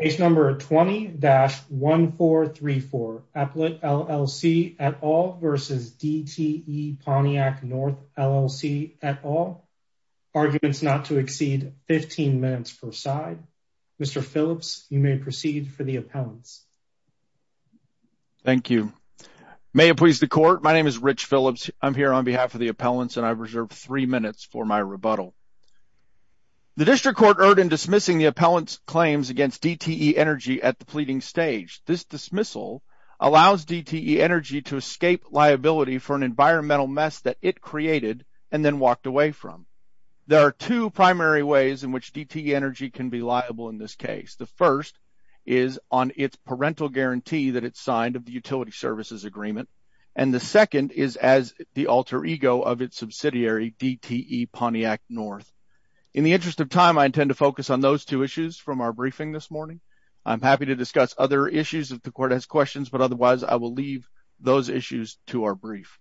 Case number 20-1434 APLET LLC et al. v. DTE Pontiac North LLC et al. Arguments not to exceed 15 minutes per side. Mr. Phillips, you may proceed for the appellants. Thank you. May it please the court, my name is Rich Phillips. I'm here on behalf of the appellants and I've reserved three minutes for my rebuttal. The district court erred in dismissing appellant's claims against DTE Energy at the pleading stage. This dismissal allows DTE Energy to escape liability for an environmental mess that it created and then walked away from. There are two primary ways in which DTE Energy can be liable in this case. The first is on its parental guarantee that it's signed of the utility services agreement and the second is as the alter ego of its subsidiary DTE Pontiac North. In the interest of time, I intend to focus on those two issues from our briefing this morning. I'm happy to discuss other issues if the court has questions, but otherwise I will leave those issues to our brief.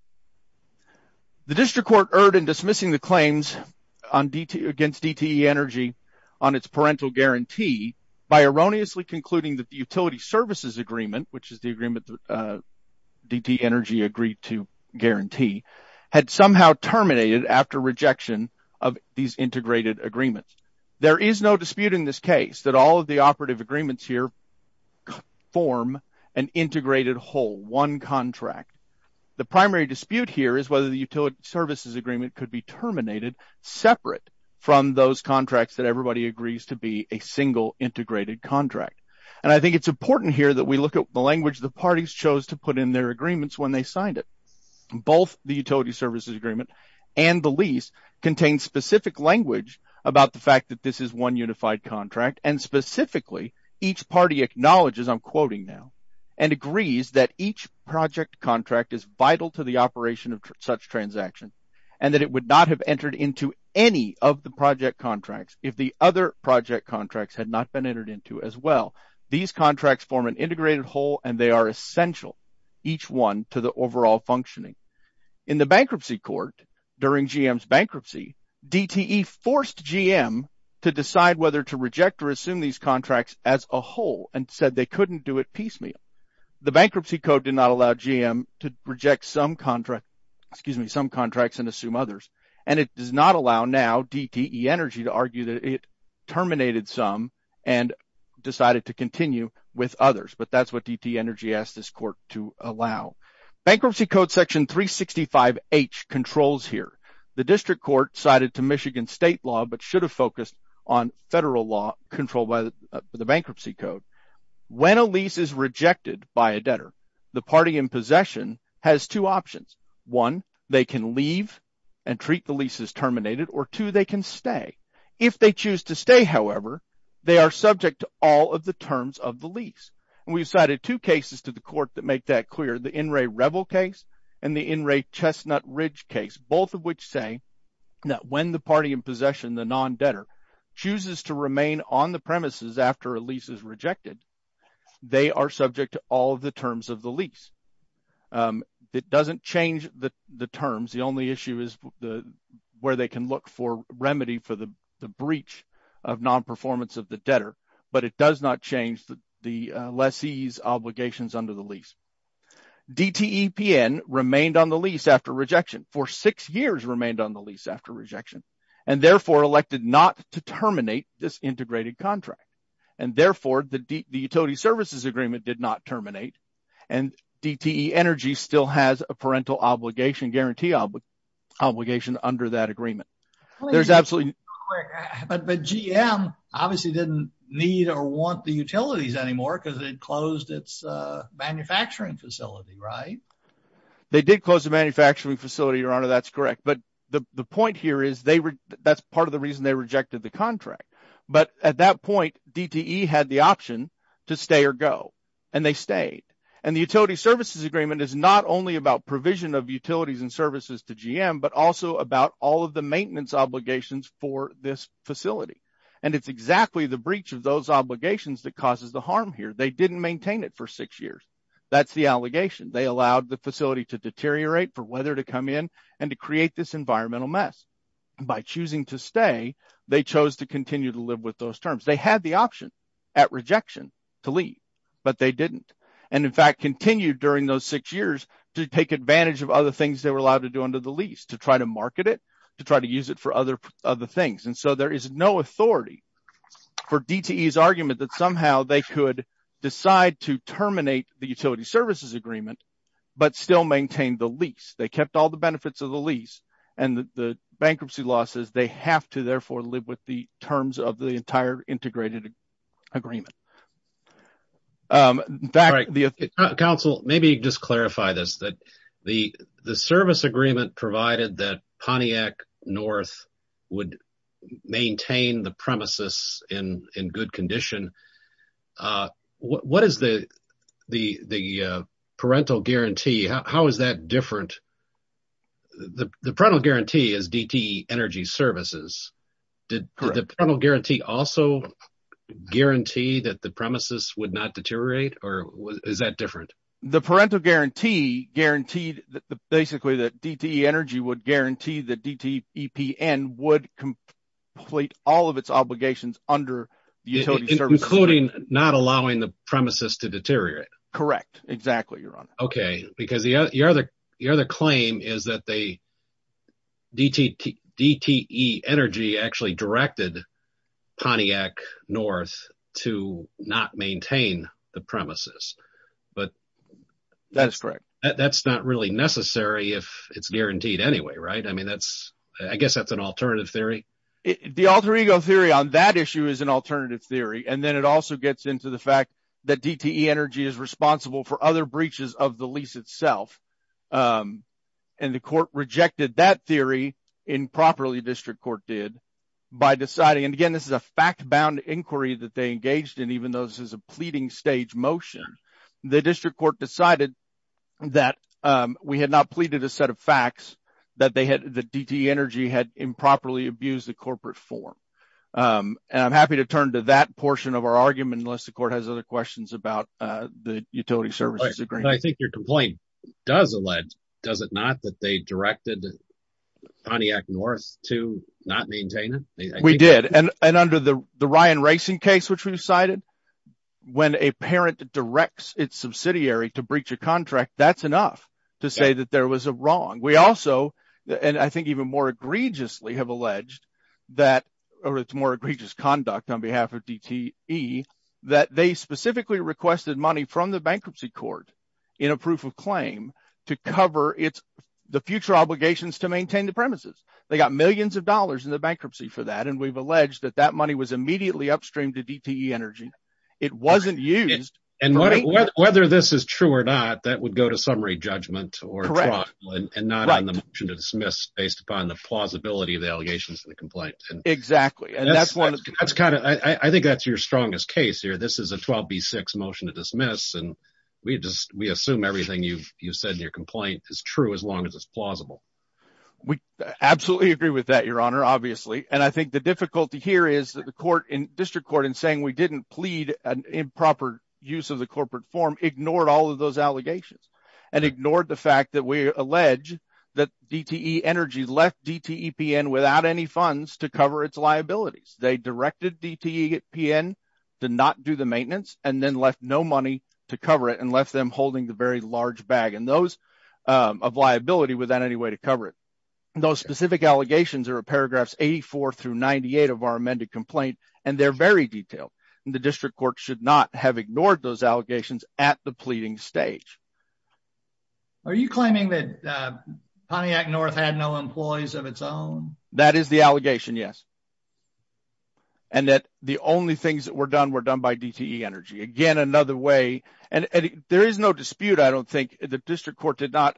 The district court erred in dismissing the claims against DTE Energy on its parental guarantee by erroneously concluding that the utility services agreement, which is the agreement DTE Energy agreed to guarantee, had somehow terminated after rejection of these integrated agreements. There is no dispute in this case that all of the operative agreements here form an integrated whole, one contract. The primary dispute here is whether the utility services agreement could be terminated separate from those contracts that everybody agrees to be a single integrated contract. And I think it's important here that we look at the language the parties chose to put in their agreements when they signed it. Both the utility services agreement and the lease contain specific language about the fact that this is one unified contract, and specifically each party acknowledges, I'm quoting now, and agrees that each project contract is vital to the operation of such transaction, and that it would not have entered into any of the project contracts if the other project contracts had not been entered into as well. These contracts form an integrated whole and they are essential, each one, to the overall functioning. In the bankruptcy court during GM's bankruptcy, DTE forced GM to decide whether to reject or assume these contracts as a whole, and said they couldn't do it piecemeal. The bankruptcy code did not allow GM to reject some contracts and assume others, and it does not allow now DTE Energy to argue that it asked this court to allow. Bankruptcy code section 365H controls here. The district court cited to Michigan state law but should have focused on federal law controlled by the bankruptcy code. When a lease is rejected by a debtor, the party in possession has two options. One, they can leave and treat the lease as terminated, or two, they can stay. If they choose to stay, however, they are subject to all of the terms of the lease, and we've cited two cases to the court that make that clear. The Enray Revel case and the Enray Chestnut Ridge case, both of which say that when the party in possession, the non-debtor, chooses to remain on the premises after a lease is rejected, they are subject to all of the terms of the lease. It doesn't change the terms. The only issue is where they can look for remedy for the breach of non-performance of the debtor, but it does not change the lessee's obligations under the lease. DTEPN remained on the lease after rejection, for six years remained on the lease after rejection, and therefore elected not to terminate this integrated contract, and therefore, the utility services agreement did not terminate, and DTE Energy still has a parental obligation, guarantee obligation under that agreement. But GM obviously didn't need or want the utilities anymore because it closed its manufacturing facility, right? They did close the manufacturing facility, Your Honor, that's correct, but the point here is that's part of the reason they rejected the contract, but at that point, DTE had the option to stay or go, and they stayed, and the utility services agreement is not only about provision of utilities and services to GM, but also about all of the maintenance obligations for this facility, and it's exactly the breach of those obligations that causes the harm here. They didn't maintain it for six years. That's the allegation. They allowed the facility to deteriorate for weather to come in and to create this environmental mess. By choosing to stay, they chose to continue to live with those terms. They had the option at rejection to leave, but they didn't, and in fact, continued during those six years to take advantage of other things they were allowed to do under the lease, to try to market it, to try to use it for other things, and so there is no authority for DTE's argument that somehow they could decide to terminate the utility services agreement, but still maintain the lease. They kept all the benefits of the lease, and the bankruptcy law says they have to therefore live with the terms of the entire integrated agreement. Council, maybe just clarify this, that the service agreement provided that Pontiac North would maintain the premises in good condition, what is the parental guarantee? How is that different? The parental guarantee is DTE Energy Services. Did the parental guarantee also guarantee that the premises would not deteriorate, or is that different? The parental guarantee guaranteed basically that DTE Energy would guarantee that DTEPN would complete all of its obligations under the utility service agreement. Including not allowing the premises to deteriorate? Correct, exactly, your honor. Okay, because the other claim is that DTE Energy actually directed Pontiac North to not maintain the premises. That's correct. That's not really necessary if it's guaranteed anyway, right? I mean, I guess that's an alternative theory. The alter ego theory on that issue is an alternative theory, and then it also gets into the fact that DTE Energy is responsible for other breaches of the lease itself, and the court rejected that theory improperly, district court did, by deciding, and again, this is a fact-bound inquiry that they engaged in, even though this is a pleading stage motion. The district court decided that we had not pleaded a set of facts, that DTE Energy had improperly abused the corporate form, and I'm happy to turn to that portion of our argument, unless the court has other questions about the utility services agreement. I think your complaint does allege, does it not, that they directed Pontiac North to not maintain it? We did, and under the Ryan Racing case, which we've cited, when a parent directs its subsidiary to breach a contract, that's enough to say that there was a wrong. We also, and I think even more egregiously, have alleged that, or it's more egregious conduct on behalf of DTE, that they specifically requested money from the bankruptcy court, in a proof of claim, to cover the future obligations to maintain the premises. They got millions of dollars in the bankruptcy for that, and we've alleged that that money was immediately upstream to DTE Energy. It wasn't used. And whether this is true or not, that would go to summary judgment or trial, and not on the motion to dismiss, based upon the plausibility of the allegations in the complaint. Exactly. And that's kind of, I think that's your dismiss, and we assume everything you've said in your complaint is true, as long as it's plausible. We absolutely agree with that, your honor, obviously. And I think the difficulty here is that the district court, in saying we didn't plead an improper use of the corporate form, ignored all of those allegations, and ignored the fact that we allege that DTE Energy left DTEPN without any funds to cover its liabilities. They directed DTEPN to not do the maintenance, and then left no money to cover it, and left them holding the very large bag, and those of liability without any way to cover it. Those specific allegations are paragraphs 84 through 98 of our amended complaint, and they're very detailed. And the district court should not have ignored those allegations at the pleading stage. Are you claiming that Pontiac North had no employees of its own? That is the allegation, yes. And that the only things that were done, were done by DTE Energy. Again, another way, and there is no dispute, I don't think, the district court did not,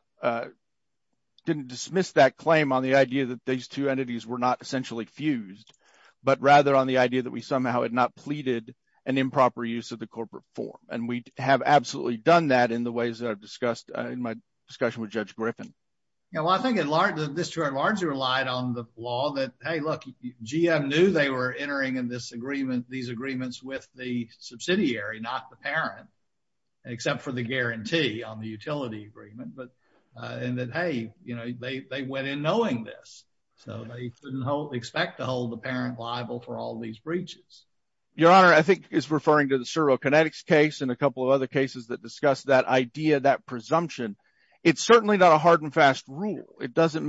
didn't dismiss that claim on the idea that these two entities were not essentially fused, but rather on the idea that we somehow had not pleaded an improper use of the corporate form. And we have absolutely done that in the ways that I've discussed in my discussion with Judge Griffin. Yeah, well, I think at large, the district at large relied on the law that, hey, look, GM knew they were entering in this agreement, these agreements with the subsidiary, not the parent, except for the guarantee on the utility agreement. But, and that, hey, you know, they went in knowing this. So they didn't expect to hold the parent liable for all these breaches. Your Honor, I think is referring to the servo kinetics case and a couple of other cases that discuss that idea, that presumption. It's certainly not a hard and fast rule. It servo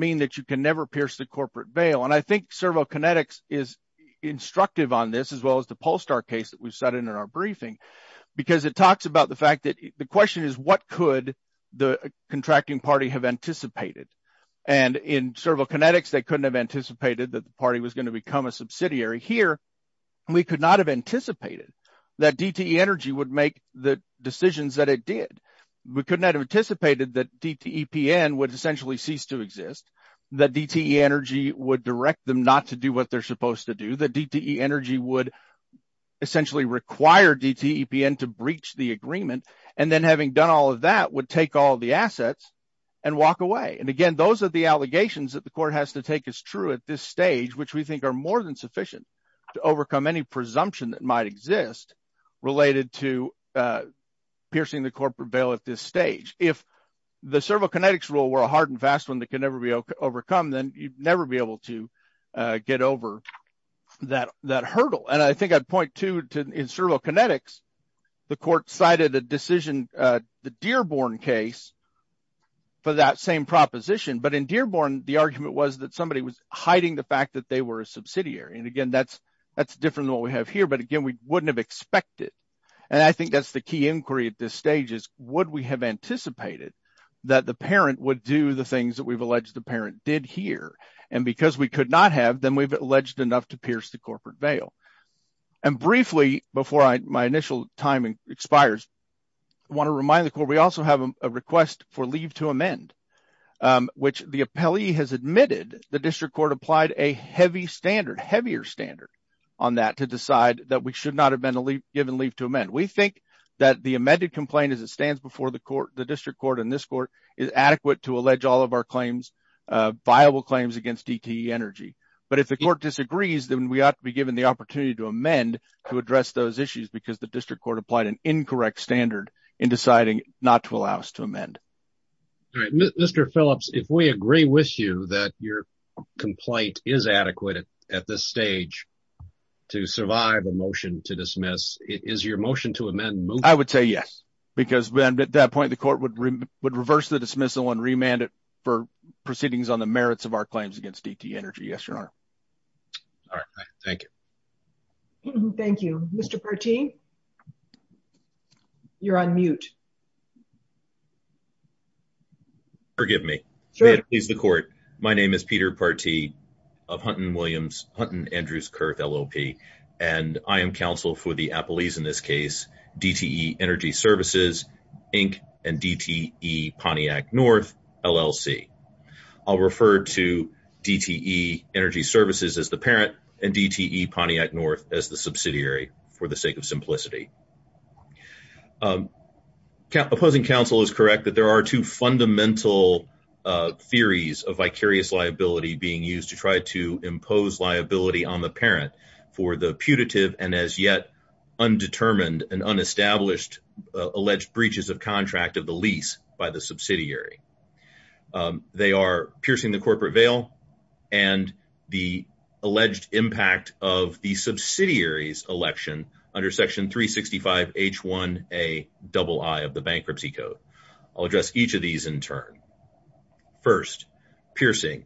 kinetics is instructive on this, as well as the Polestar case that we've set in our briefing, because it talks about the fact that the question is what could the contracting party have anticipated? And in servo kinetics, they couldn't have anticipated that the party was going to become a subsidiary here. We could not have anticipated that DTE Energy would make the decisions that it did. We couldn't have anticipated that DTEPN would essentially cease to exist, that DTE Energy would direct them not to do what they're supposed to do, that DTE Energy would essentially require DTEPN to breach the agreement. And then having done all of that would take all the assets and walk away. And again, those are the allegations that the court has to take as true at this stage, which we think are more than sufficient to overcome any presumption that might exist related to piercing the corporate bail at this stage. If the servo kinetics rule were a hard and fast one that can never be overcome, then you'd never be able to get over that hurdle. And I think I'd point to, in servo kinetics, the court cited a decision, the Dearborn case, for that same proposition. But in Dearborn, the argument was that somebody was hiding the fact that they were a subsidiary. And again, that's different than what we have here. But again, we wouldn't have expected. And I think that's the key inquiry at this stage is would we have anticipated that the parent would do the things that we've alleged the parent did here. And because we could not have, then we've alleged enough to pierce the corporate bail. And briefly, before my initial time expires, I want to remind the court, we also have a request for leave to amend, which the appellee has admitted the district court applied a heavy standard, heavier standard, on that to decide that we should not have been given leave to amend. We think that the amended complaint as it stands before the court, the district court, and this court is adequate to allege all of our claims, viable claims against DTE Energy. But if the court disagrees, then we ought to be given the opportunity to amend to address those issues, because the district court applied an incorrect standard in deciding not to allow us to amend. All right, Mr. Phillips, if we agree with you that your I would say yes, because then at that point, the court would reverse the dismissal and remand it for proceedings on the merits of our claims against DTE Energy. Yes, Your Honor. All right. Thank you. Thank you, Mr. Partee. You're on mute. Forgive me. May it please the court. My name is Peter Partee of Hunton Williams, LLP, and I am counsel for the appellees in this case, DTE Energy Services, Inc. and DTE Pontiac North, LLC. I'll refer to DTE Energy Services as the parent and DTE Pontiac North as the subsidiary for the sake of simplicity. Opposing counsel is correct that there are two fundamental theories of vicarious liability being used to try to impose liability on the parent for the putative and as yet undetermined and unestablished alleged breaches of contract of the lease by the subsidiary. They are piercing the corporate veil and the alleged impact of the subsidiary's return. First, piercing.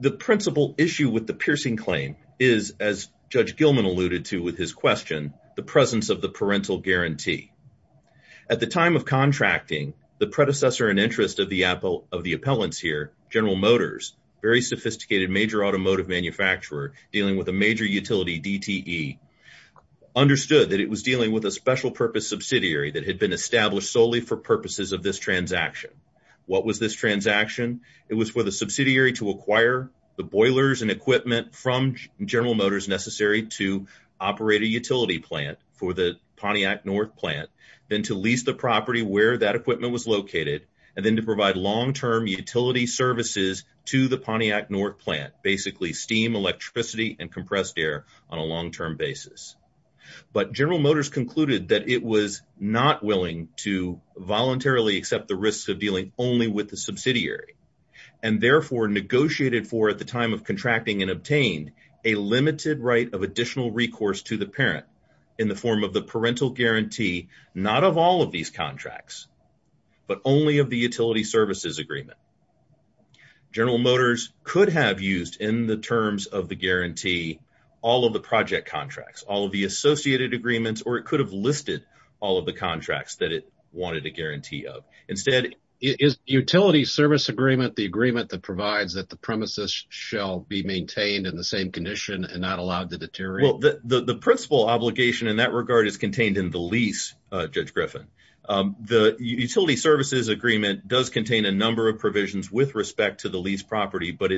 The principal issue with the piercing claim is, as Judge Gilman alluded to with his question, the presence of the parental guarantee. At the time of contracting, the predecessor in interest of the appellants here, General Motors, very sophisticated major automotive manufacturer dealing with a major utility DTE, understood that it was dealing with a special purpose subsidiary that had been established solely for purposes of this transaction. What was this transaction? It was for the subsidiary to acquire the boilers and equipment from General Motors necessary to operate a utility plant for the Pontiac North plant, then to lease the property where that equipment was located, and then to provide long-term utility services to the Pontiac North plant, basically steam, electricity, and compressed air on a motor. General Motors concluded that it was not willing to voluntarily accept the risks of dealing only with the subsidiary, and therefore negotiated for at the time of contracting and obtained a limited right of additional recourse to the parent in the form of the parental guarantee, not of all of these contracts, but only of the utility services agreement. General Motors could have used in the terms of the guarantee all of the project contracts, all of the associated agreements, or it could have listed all of the contracts that it wanted a guarantee of. Instead, is utility service agreement the agreement that provides that the premises shall be maintained in the same condition and not allowed to deteriorate? The principal obligation in that regard is contained in the lease, Judge Griffin. The utility services agreement does contain a number of provisions with respect to the lease property, but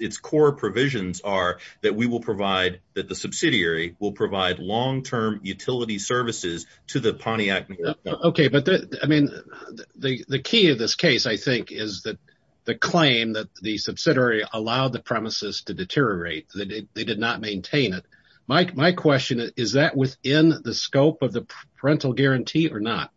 its core provisions are that the subsidiary will provide long-term utility services to the Pontiac North plant. Okay, but the key of this case, I think, is that the claim that the subsidiary allowed the premises to deteriorate, that they did not maintain it. My question is, is that within the scope of the parental guarantee or not?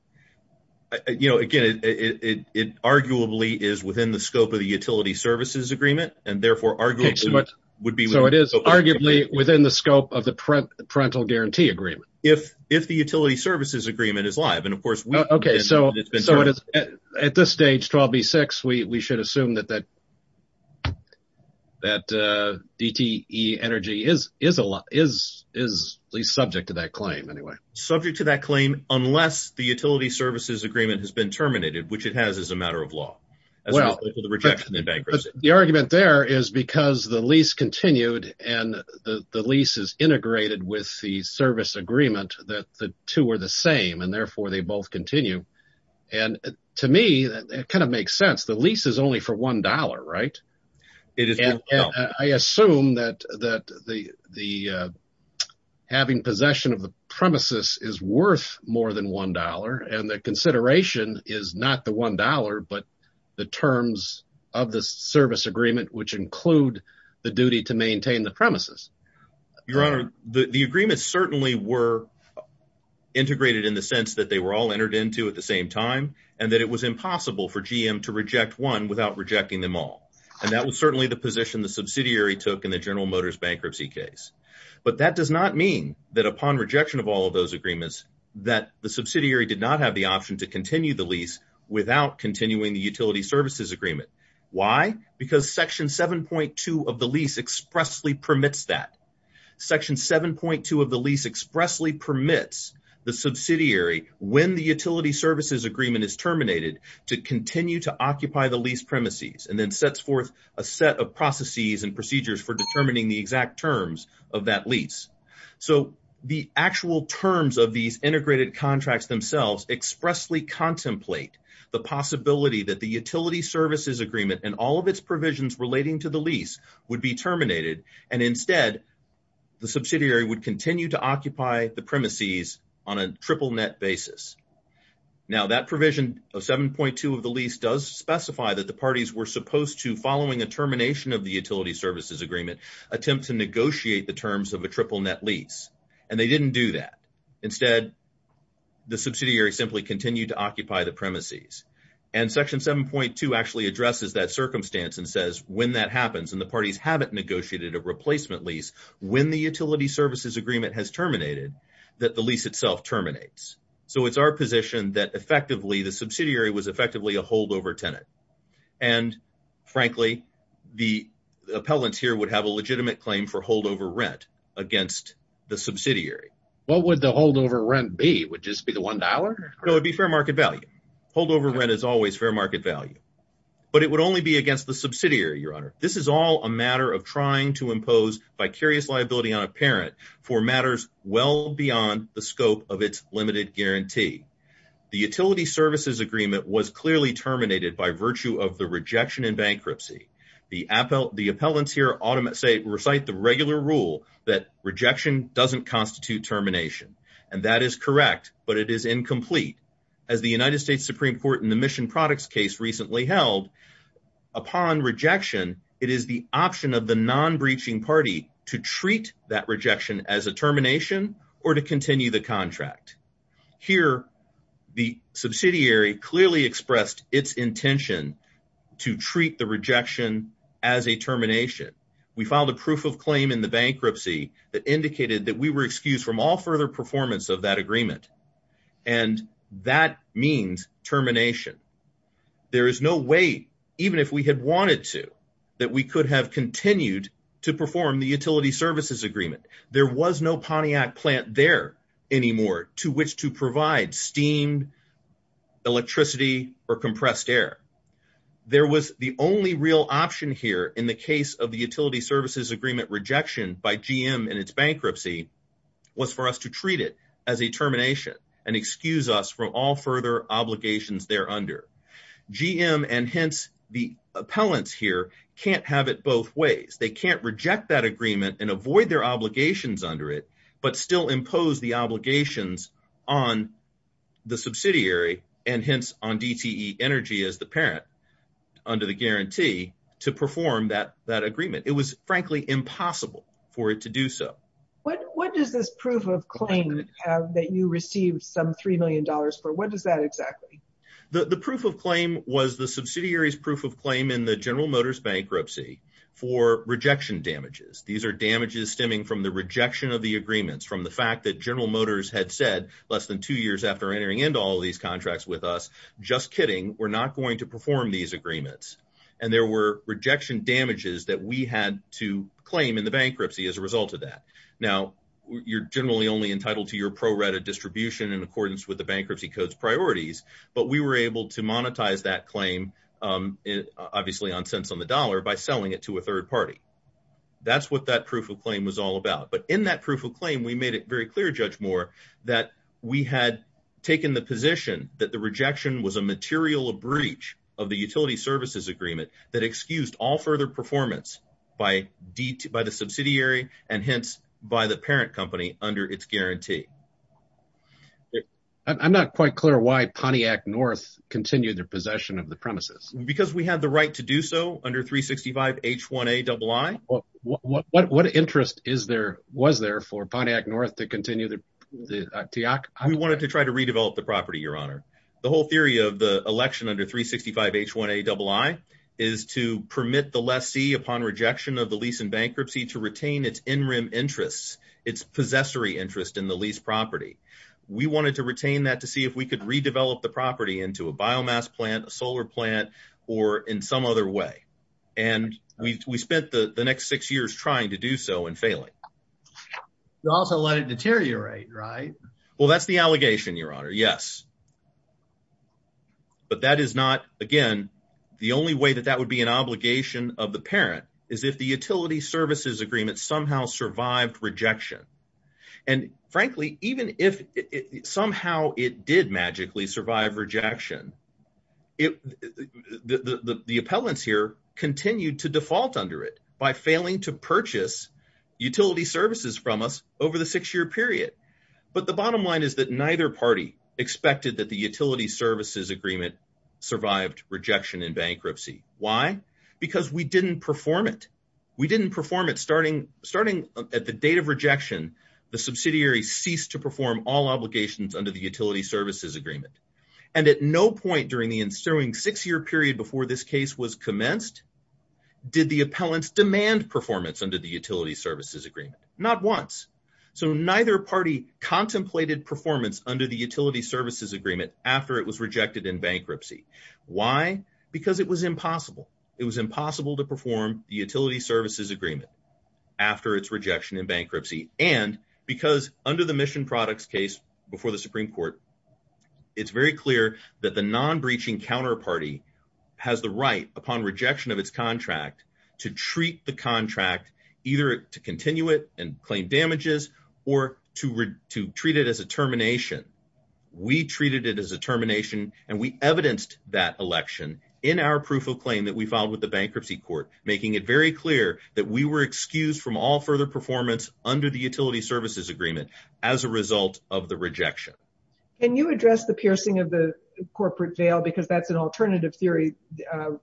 You know, again, it arguably is within the scope of the utility services agreement, and therefore arguably would be... So it is arguably within the scope of the parental guarantee agreement? If the utility services agreement is live, and of course... Okay, so at this stage, 12B6, we should assume that DTE Energy is at least subject to that claim, subject to that claim unless the utility services agreement has been terminated, which it has as a matter of law, as well as the rejection and bankruptcy. The argument there is because the lease continued and the lease is integrated with the service agreement that the two are the same, and therefore they both continue. And to me, that kind of makes sense. The lease is only for $1, right? And I assume that having possession of the premises is worth more than $1, and the consideration is not the $1, but the terms of the service agreement, which include the duty to maintain the premises. Your Honor, the agreements certainly were integrated in the sense that they were all entered into at the same time, and that it was impossible for GM to reject one without rejecting them all. And that was certainly the position the subsidiary took in the General Motors bankruptcy case. But that does not mean that upon rejection of all of those agreements, that the subsidiary did not have the option to continue the lease without continuing the utility services agreement. Why? Because Section 7.2 of the lease expressly permits that. Section 7.2 of the lease expressly permits the subsidiary, when the utility services agreement is terminated, to continue to occupy the lease premises, and then sets forth a set of processes and procedures for determining the exact terms of that lease. So, the actual terms of these integrated contracts themselves expressly contemplate the possibility that the utility services agreement and all of its provisions relating to the lease would be terminated, and instead, the subsidiary would continue to occupy the premises on a triple net basis. Now, that provision of 7.2 of the lease does specify that the parties were supposed to, following a termination of the utility services agreement, attempt to negotiate the terms of a triple net lease, and they didn't do that. Instead, the subsidiary simply continued to occupy the premises. And Section 7.2 actually addresses that circumstance and says, when that happens, and the parties haven't negotiated a replacement lease, when the utility services agreement has terminated. So, it's our position that, effectively, the subsidiary was effectively a holdover tenant. And, frankly, the appellants here would have a legitimate claim for holdover rent against the subsidiary. What would the holdover rent be? Would it just be the $1? No, it would be fair market value. Holdover rent is always fair market value. But it would only be against the subsidiary, Your Honor. This is all a matter of trying to impose vicarious liability on a parent for matters well beyond the scope of its limited guarantee. The utility services agreement was clearly terminated by virtue of the rejection and bankruptcy. The appellants here recite the regular rule that rejection doesn't constitute termination. And that is correct, but it is incomplete. As the United States Supreme Court in the Mission Products case recently held, upon rejection, it is the option of the non-breaching party to treat that rejection as a termination or to continue the contract. Here, the subsidiary clearly expressed its intention to treat the rejection as a termination. We filed a proof of claim in the bankruptcy that indicated that we were excused from all further performance of that agreement. And that means termination. There is no way, even if we had wanted to, that we could have continued to perform the utility services agreement. There was no Pontiac plant there anymore to which to provide steam, electricity, or compressed air. There was the only real option here in the case of the utility services agreement rejection by GM and its bankruptcy was for us to treat it as a termination and excuse us from all further obligations there under. GM and hence the appellants here can't have it both ways. They can't reject that agreement and avoid their obligations under it, but still impose the obligations on the subsidiary and hence on DTE Energy as the parent under the guarantee to perform that agreement. It was frankly impossible for it to do so. What does this proof of claim have that you received some three million dollars for? What is that exactly? The proof of claim was the subsidiary's proof of claim in the General Motors bankruptcy for rejection damages. These are damages stemming from the rejection of the agreements from the fact that General Motors had said less than two years after entering into all these contracts with us, just kidding, we're not going to perform these agreements. And there were claims in the bankruptcy as a result of that. Now, you're generally only entitled to your pro-rata distribution in accordance with the bankruptcy code's priorities, but we were able to monetize that claim, obviously on cents on the dollar, by selling it to a third party. That's what that proof of claim was all about. But in that proof of claim, we made it very clear, Judge Moore, that we had taken the position that the rejection was a material breach of the utility services agreement that excused all further performance by the subsidiary and hence by the parent company under its guarantee. I'm not quite clear why Pontiac North continued their possession of the premises. Because we had the right to do so under 365 H1A double I. What interest was there for Pontiac North to continue the... We wanted to try to redevelop the property, Your Honor. The whole theory of the election under 365 H1A double I is to permit the lessee upon rejection of the lease in bankruptcy to retain its in-rim interests, its possessory interest in the lease property. We wanted to retain that to see if we could redevelop the property into a biomass plant, a solar plant, or in some other way. And we spent the next six years trying to do so and failing. You also let it deteriorate, right? Well, that's the allegation, Your Honor. Yes. But that is not, again, the only way that that would be an obligation of the parent is if the utility services agreement somehow survived rejection. And frankly, even if somehow it did magically survive rejection, the appellants here continued to default under it by failing to purchase utility services from us over the six-year period. But the bottom line is that neither party expected that the utility services agreement survived rejection in bankruptcy. Why? Because we didn't perform it. We didn't perform it starting at the date of rejection, the subsidiary ceased to perform all obligations under the utility services agreement. And at no point during the ensuing six-year period before this case was commenced did the appellants demand performance under the utility services agreement. So neither party contemplated performance under the utility services agreement after it was rejected in bankruptcy. Why? Because it was impossible. It was impossible to perform the utility services agreement after its rejection in bankruptcy. And because under the Mission Products case before the Supreme Court, it's very clear that the non-breaching counterparty has the right, upon rejection of its contract, to treat the contract either to continue it and claim damages or to treat it as a termination. We treated it as a termination, and we evidenced that election in our proof of claim that we filed with the bankruptcy court, making it very clear that we were excused from all further performance under the utility services agreement as a result of the rejection. Can you address the piercing of the corporate veil? Because that's an alternative theory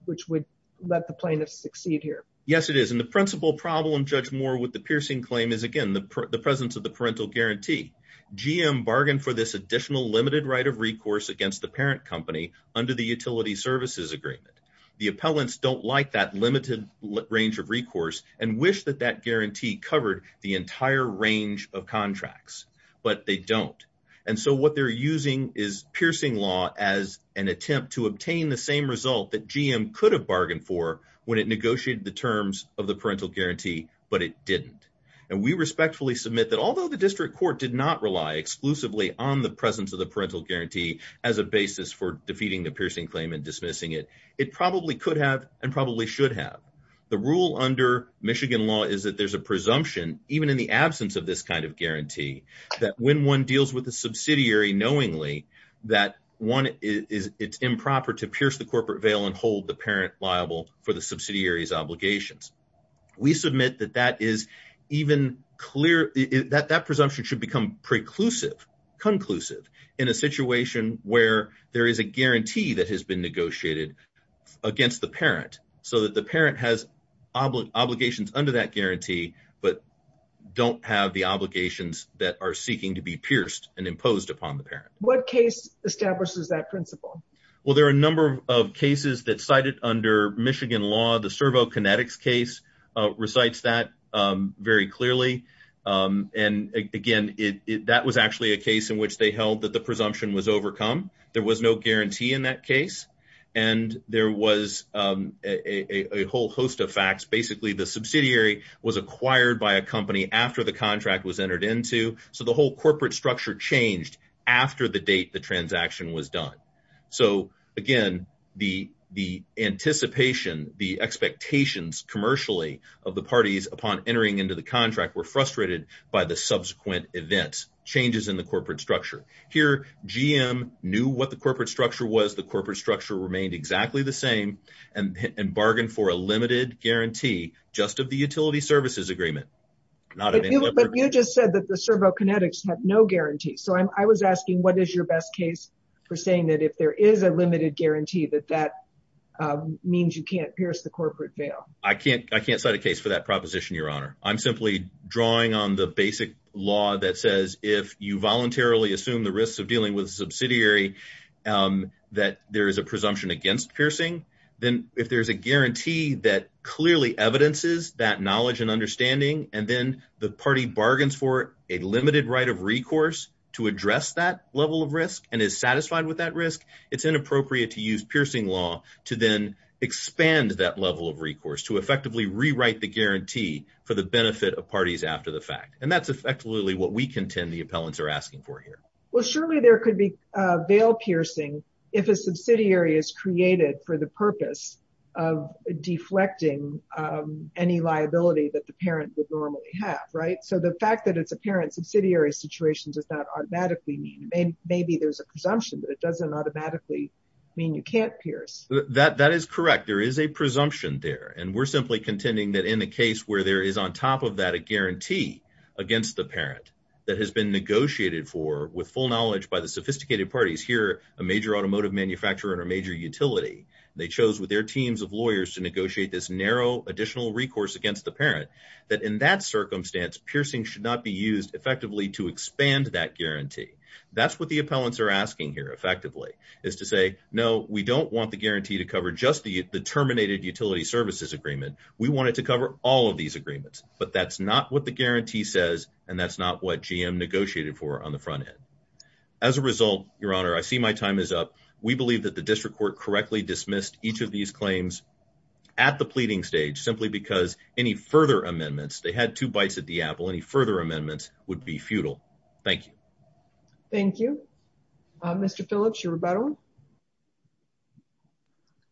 which would let the plaintiffs succeed here. Yes, it is. And the principal problem, Judge Moore, with the piercing claim is again the presence of the parental guarantee. GM bargained for this additional limited right of recourse against the parent company under the utility services agreement. The appellants don't like that limited range of recourse and wish that that guarantee covered the entire range of contracts, but they don't. And so what they're using is piercing law as an attempt to obtain the same result that GM could have bargained for when it negotiated the terms of the parental guarantee, but it didn't. And we respectfully submit that although the district court did not rely exclusively on the presence of the parental guarantee as a basis for defeating the piercing claim and dismissing it, it probably could have and probably should have. The rule under Michigan law is that there's a presumption, even in the absence of this kind of guarantee, that when one deals with a the parent liable for the subsidiary's obligations. We submit that that presumption should become conclusive in a situation where there is a guarantee that has been negotiated against the parent so that the parent has obligations under that guarantee but don't have the obligations that are seeking to be pierced and imposed upon the parent. What case establishes that principle? Well, there are a number of cases that cited under Michigan law. The Servo Kinetics case recites that very clearly. And again, that was actually a case in which they held that the presumption was overcome. There was no guarantee in that case. And there was a whole host of facts. Basically, the subsidiary was acquired by a company after the contract was entered into. So the whole again, the anticipation, the expectations commercially of the parties upon entering into the contract were frustrated by the subsequent events, changes in the corporate structure. Here, GM knew what the corporate structure was. The corporate structure remained exactly the same and bargained for a limited guarantee just of the utility services agreement. But you just said that the Servo Kinetics had no guarantee. So I was asking, what is your best case for saying that if there is a limited guarantee that that means you can't pierce the corporate veil? I can't cite a case for that proposition, Your Honor. I'm simply drawing on the basic law that says if you voluntarily assume the risks of dealing with a subsidiary, that there is a presumption against piercing. Then if there's a guarantee that clearly evidences that knowledge and understanding, and then the party bargains for a limited right of recourse to address that level of risk and is satisfied with that risk, it's inappropriate to use piercing law to then expand that level of recourse to effectively rewrite the guarantee for the benefit of parties after the fact. And that's effectively what we contend the appellants are asking for here. Well, surely there could be veil piercing if a subsidiary is created for the purpose of deflecting any liability that the parent would normally have, so the fact that it's a parent's subsidiary situation does not automatically mean maybe there's a presumption, but it doesn't automatically mean you can't pierce. That is correct. There is a presumption there, and we're simply contending that in the case where there is on top of that a guarantee against the parent that has been negotiated for with full knowledge by the sophisticated parties here, a major automotive manufacturer and a major utility, they chose with their teams of lawyers to negotiate this narrow additional recourse against the parent that in that circumstance, piercing should not be used effectively to expand that guarantee. That's what the appellants are asking here effectively is to say, no, we don't want the guarantee to cover just the terminated utility services agreement. We wanted to cover all of these agreements, but that's not what the guarantee says, and that's not what GM negotiated for on the front end. As a result, your honor, I see my time is up. We believe that the district court correctly dismissed each of these claims at the pleading stage simply because any further amendments, they had two bites at the apple. Any further amendments would be futile. Thank you. Thank you. Mr. Phillips, you were better.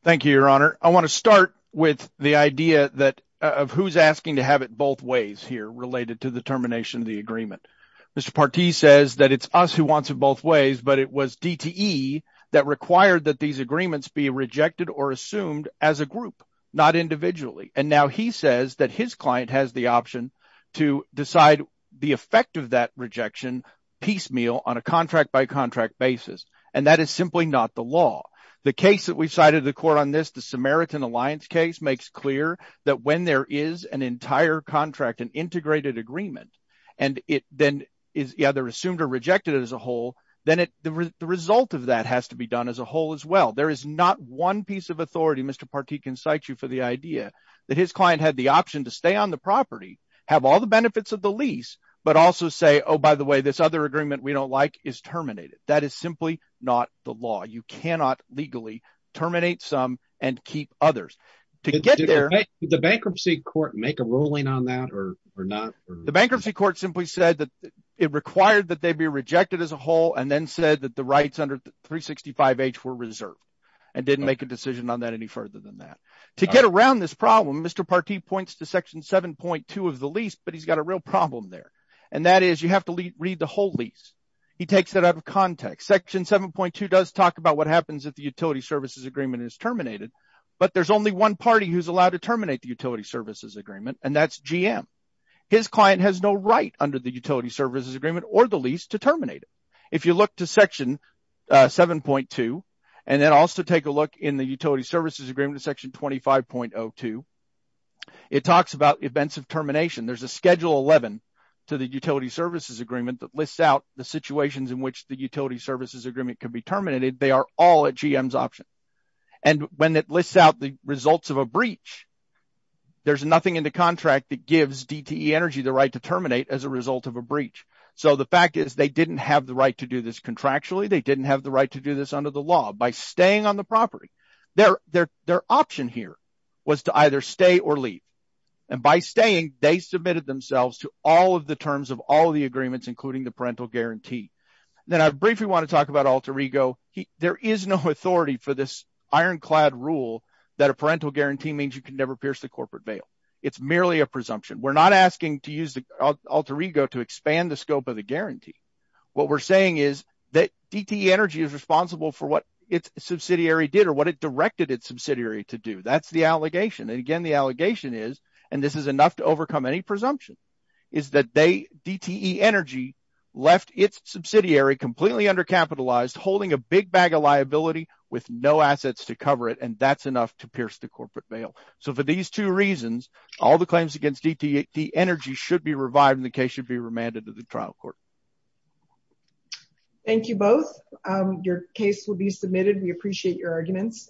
Thank you, your honor. I want to start with the idea that of who's asking to have it both ways here related to the termination of the agreement. Mr. Partee says that it's us who wants it both ways, but it was DTE that required that these agreements be rejected or assumed as a group, not individually. Now he says that his client has the option to decide the effect of that rejection piecemeal on a contract-by-contract basis, and that is simply not the law. The case that we've cited in the court on this, the Samaritan Alliance case, makes clear that when there is an entire contract, an integrated agreement, and then they're assumed or rejected as a whole, then the result of that has to be done as a whole as well. There is not piece of authority, Mr. Partee can cite you for the idea, that his client had the option to stay on the property, have all the benefits of the lease, but also say, oh, by the way, this other agreement we don't like is terminated. That is simply not the law. You cannot legally terminate some and keep others. To get there... Did the bankruptcy court make a ruling on that or not? The bankruptcy court simply said that it required that they be rejected as a whole, and then said that the rights under 365H were reserved, and didn't make a decision on that any further than that. To get around this problem, Mr. Partee points to section 7.2 of the lease, but he's got a real problem there, and that is you have to read the whole lease. He takes that out of context. Section 7.2 does talk about what happens if the utility services agreement is terminated, but there's only one party who's allowed to terminate the utility services agreement, and that's GM. His client has no right under the utility services agreement or the lease to terminate. If you look to section 7.2, and then also take a look in the utility services agreement in section 25.02, it talks about events of termination. There's a schedule 11 to the utility services agreement that lists out the situations in which the utility services agreement can be terminated. They are all at GM's option, and when it lists out the results of a breach, there's nothing in the contract that gives DTE Energy the right to terminate as a result of a contractual breach. They didn't have the right to do this under the law by staying on the property. Their option here was to either stay or leave, and by staying, they submitted themselves to all of the terms of all of the agreements, including the parental guarantee. Then I briefly want to talk about Alter Ego. There is no authority for this ironclad rule that a parental guarantee means you can never pierce the corporate bail. It's merely a presumption. We're not asking to use the guarantee. What we're saying is that DTE Energy is responsible for what its subsidiary did or what it directed its subsidiary to do. That's the allegation. Again, the allegation is, and this is enough to overcome any presumption, is that DTE Energy left its subsidiary completely undercapitalized, holding a big bag of liability with no assets to cover it, and that's enough to pierce the corporate bail. For these two reasons, all the claims against DTE Energy should be remanded to the trial court. Thank you both. Your case will be submitted. We appreciate your arguments.